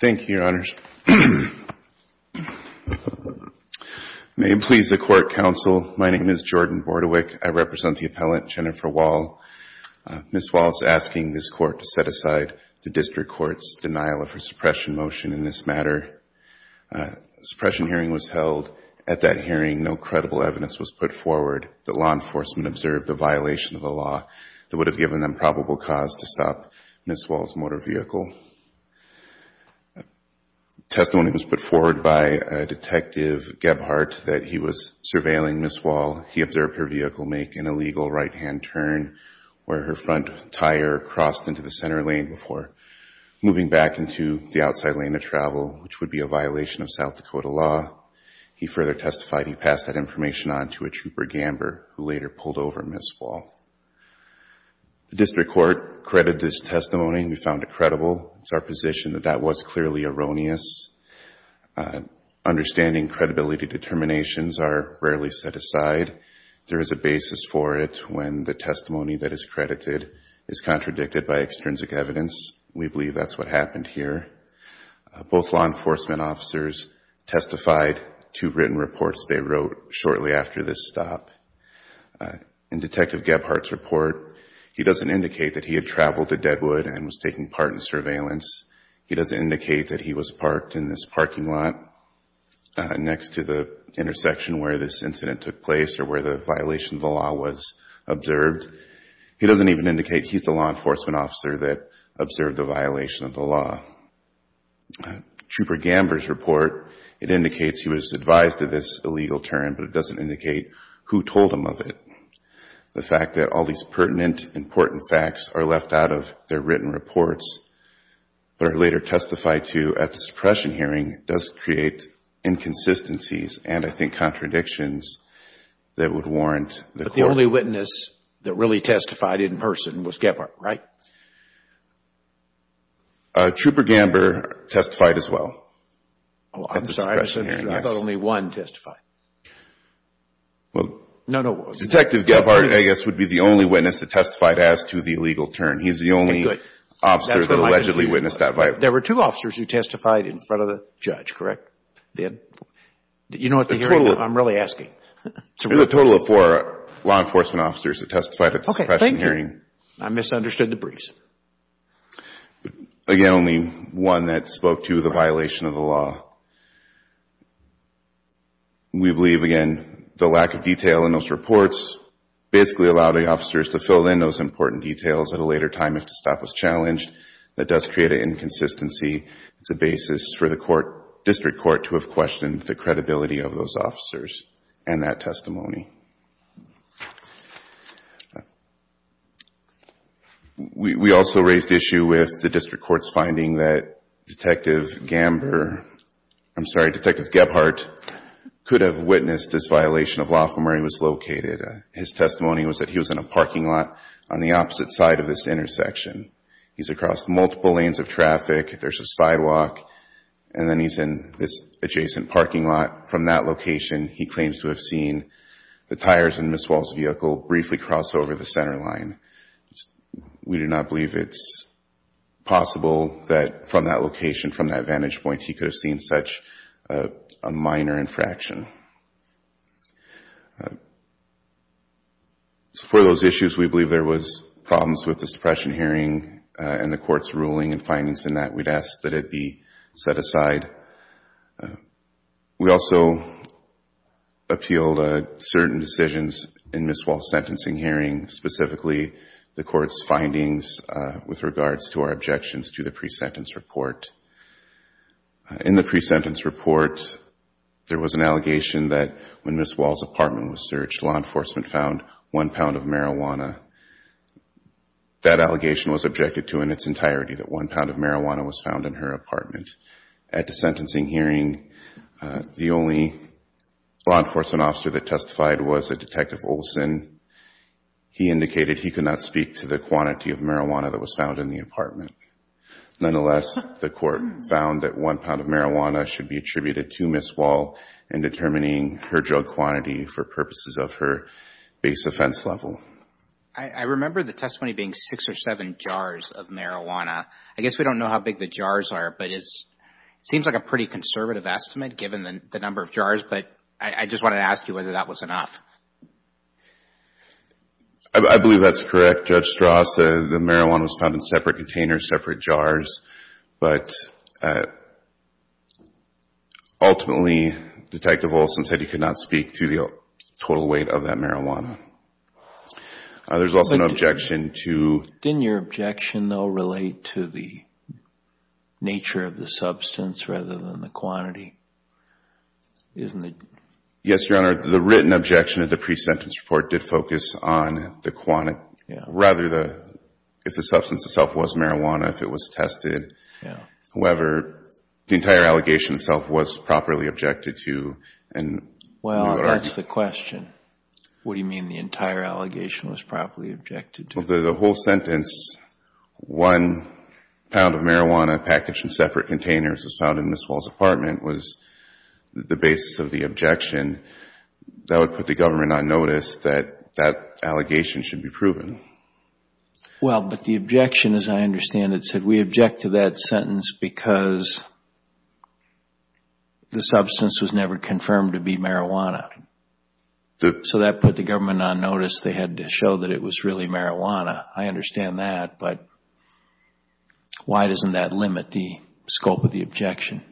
Thank you, Your Honors. May it please the Court, Counsel, my name is Jordan Bordewick. I represent the appellant, Jenifer Wahl. Ms. Wahl is asking this Court to set aside the District Court's denial of her suppression motion in this matter. A suppression hearing was held. At that hearing, no credible evidence was put forward that law enforcement observed a violation of the law that would have given them probable cause to stop Ms. Wahl's motor vehicle. Testimony was put forward by Detective Gebhardt that he was surveilling Ms. Wahl. He observed her vehicle make an illegal right-hand turn where her front tire crossed into the center lane before moving back into the outside lane of travel, which would be a violation of South Dakota law. He further testified he passed that information on to a trooper, Gamber, who later pulled over Ms. Wahl. The District Court credited this testimony and we found it credible. It's our position that that was clearly erroneous. Understanding credibility determinations are rarely set aside. There is a basis for it when the testimony that is credited is contradicted by extrinsic evidence. We believe that's what happened here. Both law enforcement officers testified to written reports they wrote shortly after this stop. In Detective Gebhardt's report, he doesn't indicate that he had traveled to Deadwood and was taking part in surveillance. He doesn't indicate that he was parked in this parking lot next to the intersection where this incident took place or where the violation of the law was observed. He doesn't even indicate he's the law enforcement officer that observed the violation of the law. Trooper Gamber's report, it indicates he was advised of this illegal turn, but it doesn't indicate who told him of it. The fact that all these pertinent, important facts are left out of their written reports that are later testified to at the suppression hearing does create inconsistencies and I think contradictions that would warrant the court... But the only witness that really testified in person was Gebhardt, right? Trooper Gamber testified as well at the suppression hearing, yes. How about only one testified? Detective Gebhardt, I guess, would be the only witness that testified as to the illegal turn. He's the only officer that allegedly witnessed that violation. There were two officers who testified in front of the judge, correct? You know what the hearing... I'm really asking. There was a total of four law enforcement officers that testified at the suppression hearing. I misunderstood the briefs. Again, only one that spoke to the violation of the law. We believe, again, the lack of detail in those reports basically allowed the officers to fill in those important details at a later time if the stop was challenged. That does create an inconsistency. It's a basis for the court... district court to have questioned the credibility of those officers and that testimony. We also raised the issue with the district court's finding that Detective Gamber... I'm sorry, Detective Gebhardt could have witnessed this violation of law from where he was located. His testimony was that he was in a parking lot on the opposite side of this intersection. He's across multiple lanes of traffic. There's a sidewalk and then he's in this adjacent parking lot. From that location, he claims to have seen the tires in Ms. Wall's vehicle briefly cross over the center line. We do not believe it's possible that from that location, from that vantage point, he could have seen such a minor infraction. For those issues, we believe there was problems with the suppression hearing and the court's ruling and findings in that. We'd ask that it be set aside. We also appealed certain decisions in Ms. Wall's sentencing hearing, specifically the court's findings with regards to our objections to the pre-sentence report. In the pre-sentence report, there was an allegation that when Ms. Wall's apartment was searched, law enforcement found one pound of marijuana. That allegation was objected to in its entirety that one pound of marijuana was found in her apartment. At the sentencing hearing, the only law enforcement officer that testified was a Detective Olson. He indicated he could not speak to the quantity of marijuana that was found in the apartment. Nonetheless, the court found that one pound of marijuana should be attributed to Ms. Wall in determining her drug quantity for purposes of her base offense level. I remember the testimony being six or seven jars of marijuana. I guess we don't know how big the jars are, but it seems like a pretty conservative estimate given the number of jars, but I just wanted to ask you whether that was enough. I believe that's correct, Judge Strauss. The marijuana was found in separate containers, separate jars, but ultimately, Detective Olson said he could not speak to the total weight of that marijuana. There's also an objection to... Didn't your objection, though, relate to the nature of the substance rather than the quantity? Yes, Your Honor. The written objection of the pre-sentence report did focus on the quantity, rather, if the substance itself was marijuana, if it was tested. However, the entire allegation itself was properly objected to. Well, that's the question. What do you mean the entire allegation was properly objected to? The whole sentence, one pound of marijuana packaged in separate containers was found in Ms. Wall's apartment, was the basis of the objection. That would put the government on notice that that allegation should be proven. Well, but the objection, as I understand it, said we object to that sentence because the substance was never confirmed to be marijuana. So that put the government on notice they had to show that it was really marijuana. I understand that, but why doesn't that limit the scope of the objection?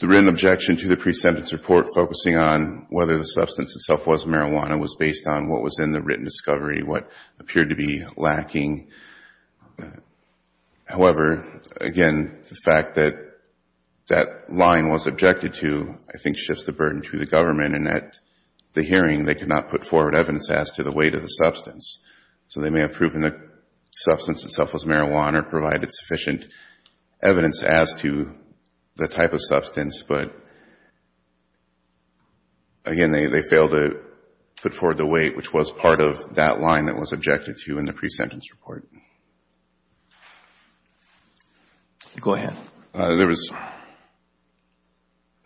The written objection to the pre-sentence report focusing on whether the substance itself was marijuana was based on what was in the written discovery, what appeared to be lacking. However, again, the fact that that line was objected to, I think, shifts the burden to the government in that the hearing, they could not put forward evidence as to the weight of the substance. So they may have proven the substance itself was marijuana or provided sufficient evidence as to the type of substance, but, again, they failed to put forward the weight, which was part of that line that was objected to in the pre-sentence report. Go ahead. There was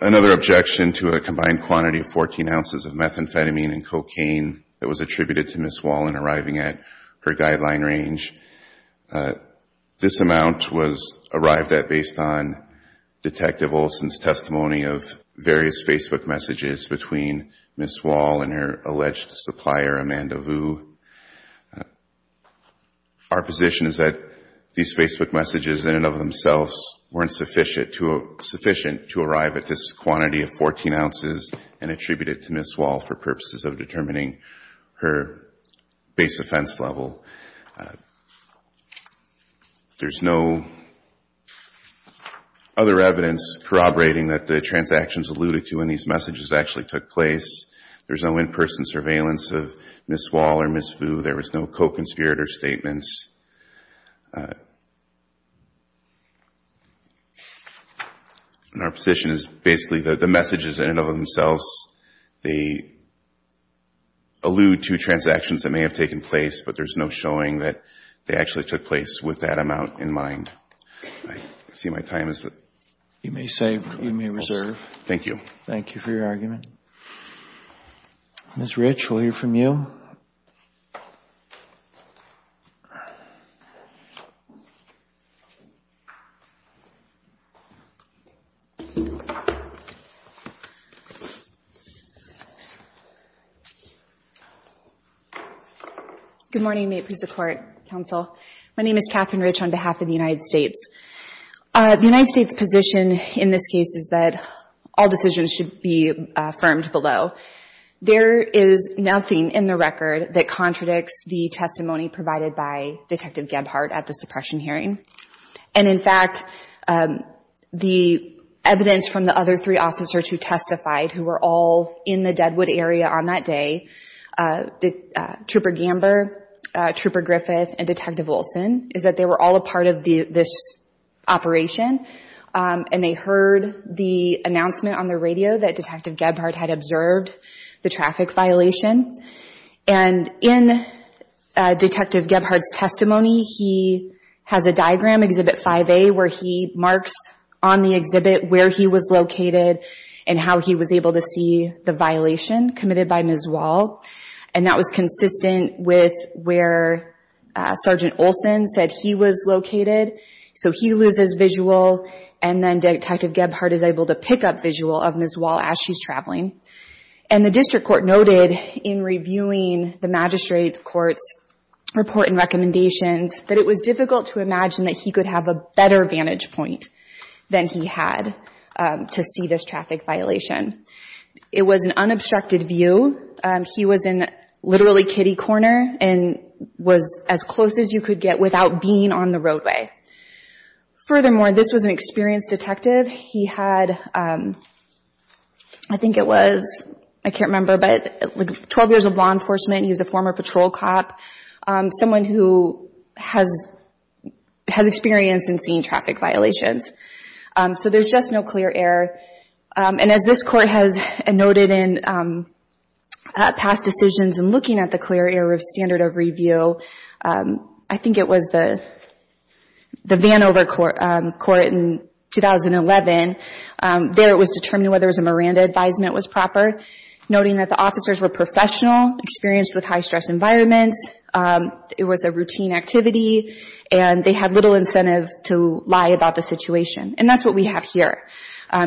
another objection to a combined quantity of 14 ounces of methamphetamine and cocaine that was attributed to Ms. Wall in arriving at her guideline range. This amount was arrived at based on Detective Olson's testimony of various Facebook messages between Ms. Wall and her client Ovu. Our position is that these Facebook messages in and of themselves weren't sufficient to arrive at this quantity of 14 ounces and attribute it to Ms. Wall for purposes of determining her base offense level. There's no other evidence corroborating that the transactions alluded to in these messages actually took place. There's no in-person surveillance of Ms. Wall or Ms. Ovu. There was no co-conspirator statements. And our position is basically that the messages in and of themselves, they allude to transactions that may have taken place, but there's no showing that they actually took place with that amount in mind. I see my time is up. You may save. You may reserve. Thank you. Thank you for your argument. Ms. Rich, we'll hear from you. Good morning. May it please the Court, Counsel. My name is Katherine Rich on behalf of the United States. The United States' position in this case is that all decisions should be affirmed below. There is nothing in the record that contradicts the testimony provided by Detective Gebhardt at the suppression hearing. And in fact, the evidence from the other three officers who testified, who were all in the Deadwood area on that day, Trooper Gamber, Trooper Griffith, and Detective Wilson, is that they were all a part of this operation. And they heard the announcement on the radio that Detective Gebhardt had observed the traffic violation. And in Detective Gebhardt's testimony, he has a diagram, Exhibit 5A, where he marks on the exhibit where he was located and how he was able to see the violation committed by Ms. Wall. And that was consistent with where Sergeant Olson said he was located. So he loses visual, and then Detective Gebhardt is able to pick up visual of Ms. Wall as she's traveling. And the District Court noted in reviewing the Magistrate's Court's report and recommendations that it was difficult to imagine that he could have a better vantage point than he had to see this traffic violation. It was an unobstructed view. He was in literally Kitty Corner and was as close as you could get without being on the roadway. Furthermore, this was an experienced detective. He had, I think it was, I can't remember, but 12 years of law enforcement. He was a former patrol cop, someone who has experience in seeing traffic violations. So there's just no clear error. And as this Court has noted in past decisions in looking at the clear error of standard of review, I think it was the Vanover Court in 2011. There it was determined whether a Miranda advisement was proper, noting that the officers were professional, experienced with high-stress environments. It was a routine activity, and they had little incentive to lie about the situation. And that's what we have here.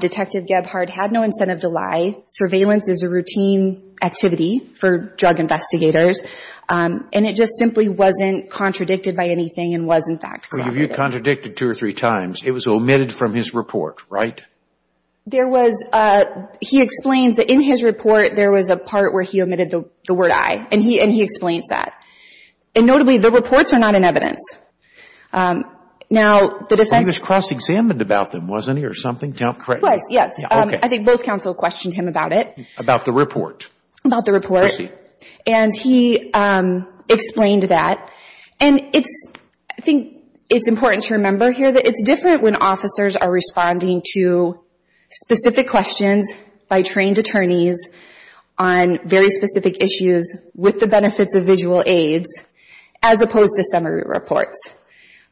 Detective Gebhardt had no incentive to lie. Surveillance is a routine activity for drug investigators. And it just simply wasn't contradicted by anything and was, in fact, corroborated. Well, you've contradicted two or three times. It was omitted from his report, right? There was, he explains that in his report there was a part where he omitted the word I, and he explains that. And notably, the reports are not in evidence. Now, the defense – He was cross-examined about them, wasn't he, or something, correct? He was, yes. I think both counsel questioned him about it. About the report. About the report. I see. And he explained that. And I think it's important to remember here that it's different when officers are responding to specific questions by trained attorneys on very specific issues with the benefits of visual aids as opposed to summary reports.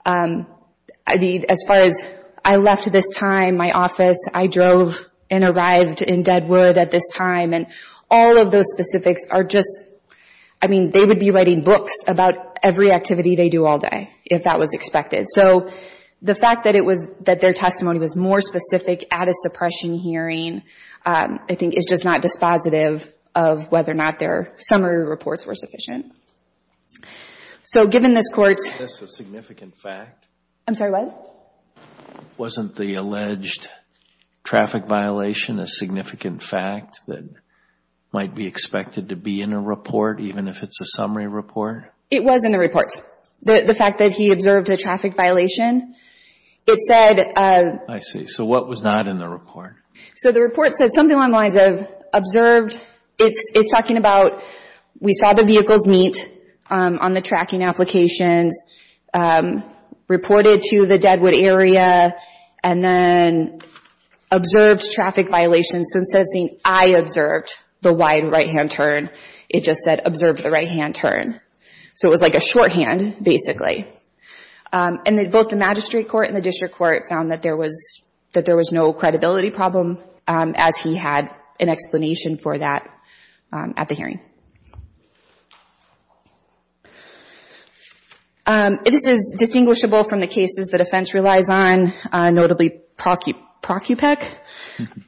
As far as I left this time, my office, I drove and arrived in Deadwood at this time, and all of those specifics are just – I mean, they would be writing books about every activity they do all day if that was expected. So, the fact that their testimony was more specific at a suppression hearing, I think, is just not dispositive of whether or not their summary reports were sufficient. So, given this Court's – Is this a significant fact? I'm sorry, what? Wasn't the alleged traffic violation a significant fact that might be expected to be in a report, even if it's a summary report? It was in the report. The fact that he observed a traffic violation. It said – I see. So, what was not in the report? So, the report said something along the lines of observed. It's talking about we saw the vehicles meet on the tracking applications, reported to the Deadwood area, and then observed traffic violations. So, instead of saying, I observed the wide right-hand turn, it just said observed the right-hand turn. So, it was like a shorthand, basically. And both the Magistrate Court and the District Court found that there was no credibility problem as he had an explanation for that at the hearing. This is distinguishable from the cases that offense relies on, notably Procupec,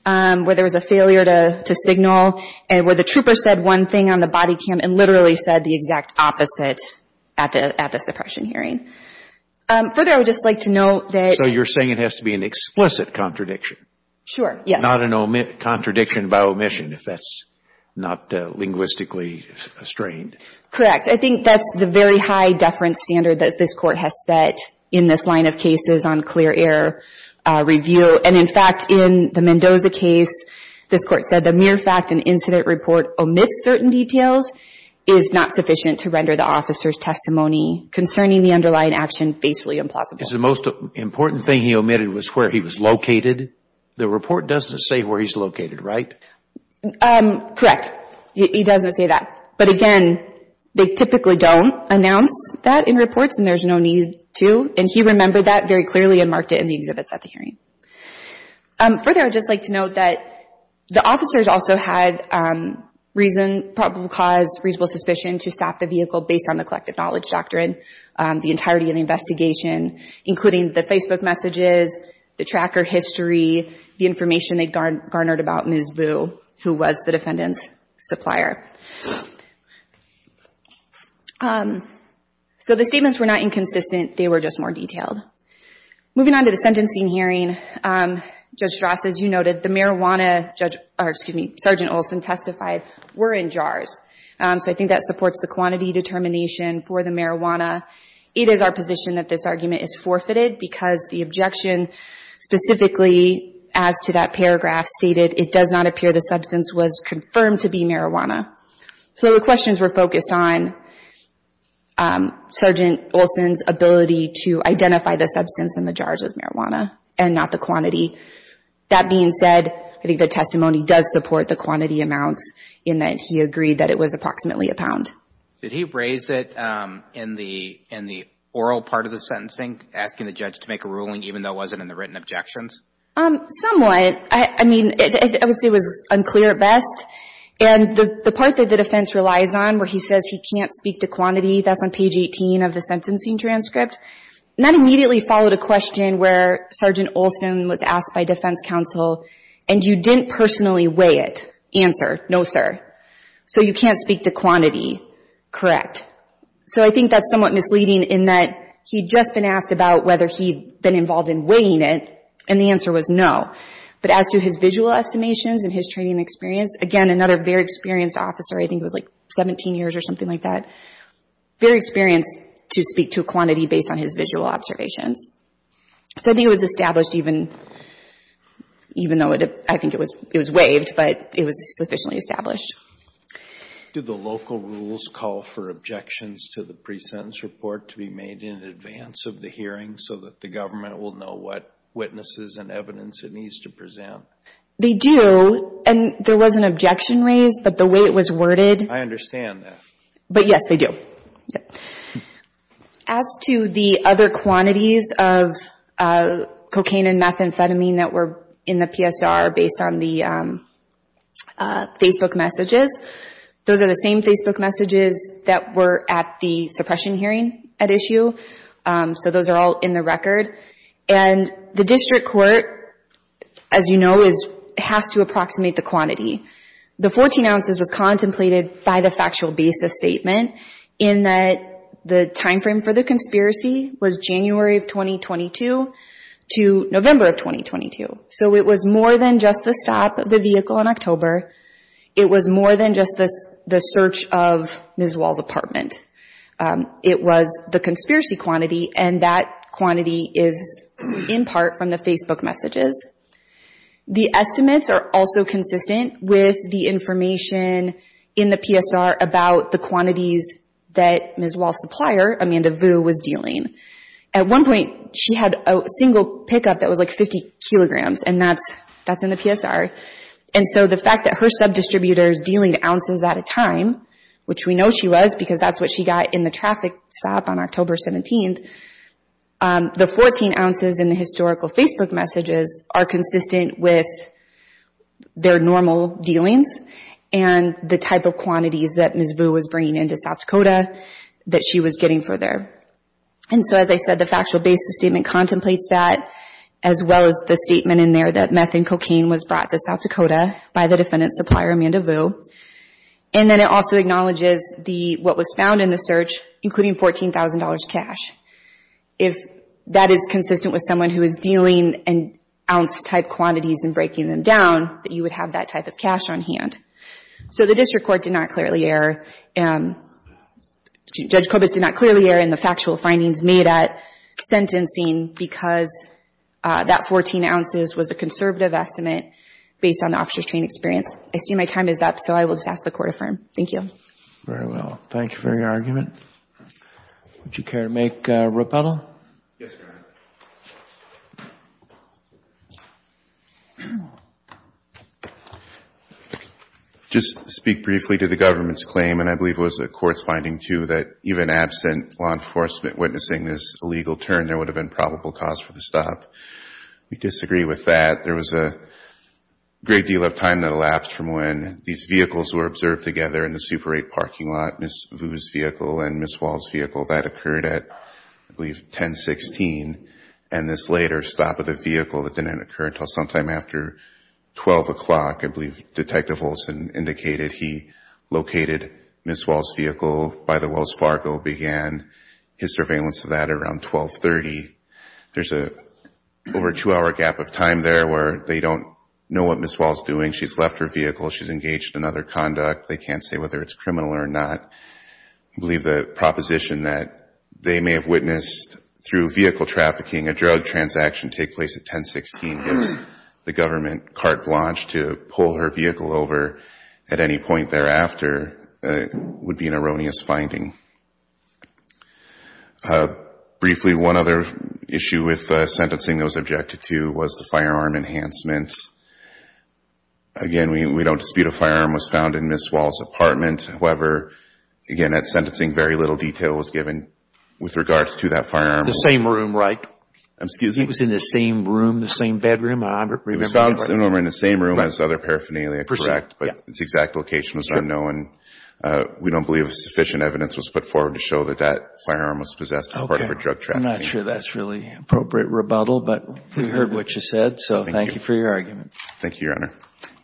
where there was a failure to signal, where the trooper said one thing on the body cam and literally said the exact opposite at the suppression hearing. Further, I would just like to note that – So, you're saying it has to be an explicit contradiction. Sure, yes. Not a contradiction by omission, if that's not linguistically strained. Correct. I think that's the very high deference standard that this Court has set in this line of cases on clear error review. And, in fact, in the Mendoza case, this Court said the mere fact an incident report omits certain details is not sufficient to render the officer's testimony concerning the underlying action basically implausible. The most important thing he omitted was where he was located. The report doesn't say where he's located, right? Correct. He doesn't say that. But, again, they typically don't announce that in reports, and there's no need to. And he remembered that very clearly and marked it in the exhibits at the hearing. Further, I would just like to note that the officers also had reason – probable cause, reasonable suspicion to stop the vehicle based on the collective knowledge doctrine, the entirety of the investigation, including the Facebook messages, the tracker history, the information they garnered about Ms. Vu, who was the defendant's supplier. So the statements were not inconsistent. They were just more detailed. Moving on to the sentencing hearing, Judge Strass, as you noted, the marijuana, Sgt. Olson testified, were in jars. So I think that supports the quantity determination for the marijuana. It is our position that this argument is forfeited because the objection specifically as to that paragraph stated, it does not appear the substance was confirmed to be marijuana. So the questions were focused on Sgt. Olson's ability to identify the substance in the jars as marijuana and not the quantity. That being said, I think the testimony does support the quantity amounts in that he agreed that it was approximately a pound. Did he raise it in the oral part of the sentencing, asking the judge to make a ruling, even though it wasn't in the written objections? Somewhat. I mean, I would say it was unclear at best. And the part that the defense relies on where he says he can't speak to quantity, that's on page 18 of the sentencing transcript. And that immediately followed a question where Sgt. Olson was asked by defense counsel, and you didn't personally weigh it. Answer, no, sir. So you can't speak to quantity. Correct. So I think that's somewhat misleading in that he'd just been asked about whether he'd been involved in weighing it, and the answer was no. But as to his visual estimations and his training and experience, again, another very experienced officer. I think he was, like, 17 years or something like that. Very experienced to speak to quantity based on his visual observations. So I think it was established even though I think it was waived, but it was sufficiently established. Did the local rules call for objections to the pre-sentence report to be made in advance of the hearing so that the government will know what witnesses and evidence it needs to present? They do, and there was an objection raised, but the way it was worded. I understand that. But, yes, they do. As to the other quantities of cocaine and methamphetamine that were in the PSR based on the Facebook messages, those are the same Facebook messages that were at the suppression hearing at issue. So those are all in the record. And the district court, as you know, has to approximate the quantity. The 14 ounces was contemplated by the factual basis statement in that the time frame for the conspiracy was January of 2022 to November of 2022. So it was more than just the stop of the vehicle in October. It was more than just the search of Ms. Wall's apartment. It was the conspiracy quantity, and that quantity is in part from the Facebook messages. The estimates are also consistent with the information in the PSR about the quantities that Ms. Wall's supplier, Amanda Vu, was dealing. At one point, she had a single pickup that was like 50 kilograms, and that's in the PSR. And so the fact that her subdistributor is dealing ounces at a time, which we know she was, because that's what she got in the traffic stop on October 17th, the 14 ounces in the historical Facebook messages are consistent with their normal dealings and the type of quantities that Ms. Vu was bringing into South Dakota that she was getting for there. And so, as I said, the factual basis statement contemplates that, as well as the statement in there that meth and cocaine was brought to South Dakota by the defendant's supplier, Amanda Vu. And then it also acknowledges what was found in the search, including $14,000 cash. If that is consistent with someone who is dealing in ounce-type quantities and breaking them down, that you would have that type of cash on hand. So the district court did not clearly err. Judge Kobus did not clearly err in the factual findings made at sentencing because that 14 ounces was a conservative estimate based on the officer's training experience. I see my time is up, so I will just ask the Court to affirm. Thank you. Very well. Thank you for your argument. Would you care to make a rebuttal? Yes, Your Honor. Just to speak briefly to the government's claim, and I believe it was a court's finding, too, that even absent law enforcement witnessing this illegal turn, there would have been probable cause for the stop. We disagree with that. There was a great deal of time that elapsed from when these vehicles were observed together in the Super 8 parking lot, Ms. Vu's vehicle and Ms. Wall's vehicle. That occurred at, I believe, 10-16. And this later stop of the vehicle that didn't occur until sometime after 12 o'clock, I believe Detective Olson indicated he located Ms. Wall's vehicle by the Wells Fargo began. His surveillance of that around 12-30. There's over a two-hour gap of time there where they don't know what Ms. Wall's doing. She's left her vehicle. She's engaged in other conduct. They can't say whether it's criminal or not. I believe the proposition that they may have witnessed through vehicle trafficking a drug transaction take place at 10-16 as the government carte blanche to pull her vehicle over at any point thereafter would be an erroneous finding. Briefly, one other issue with sentencing that was objected to was the firearm enhancements. Again, we don't dispute a firearm was found in Ms. Wall's apartment. However, again, at sentencing, very little detail was given with regards to that firearm. The same room, right? Excuse me? It was in the same room, the same bedroom? It was found somewhere in the same room as other paraphernalia. But its exact location was unknown. We don't believe sufficient evidence was put forward to show that that firearm was possessed as part of her drug trafficking. I'm not sure that's really an appropriate rebuttal. But we heard what you said, so thank you for your argument. Thank you, Your Honor.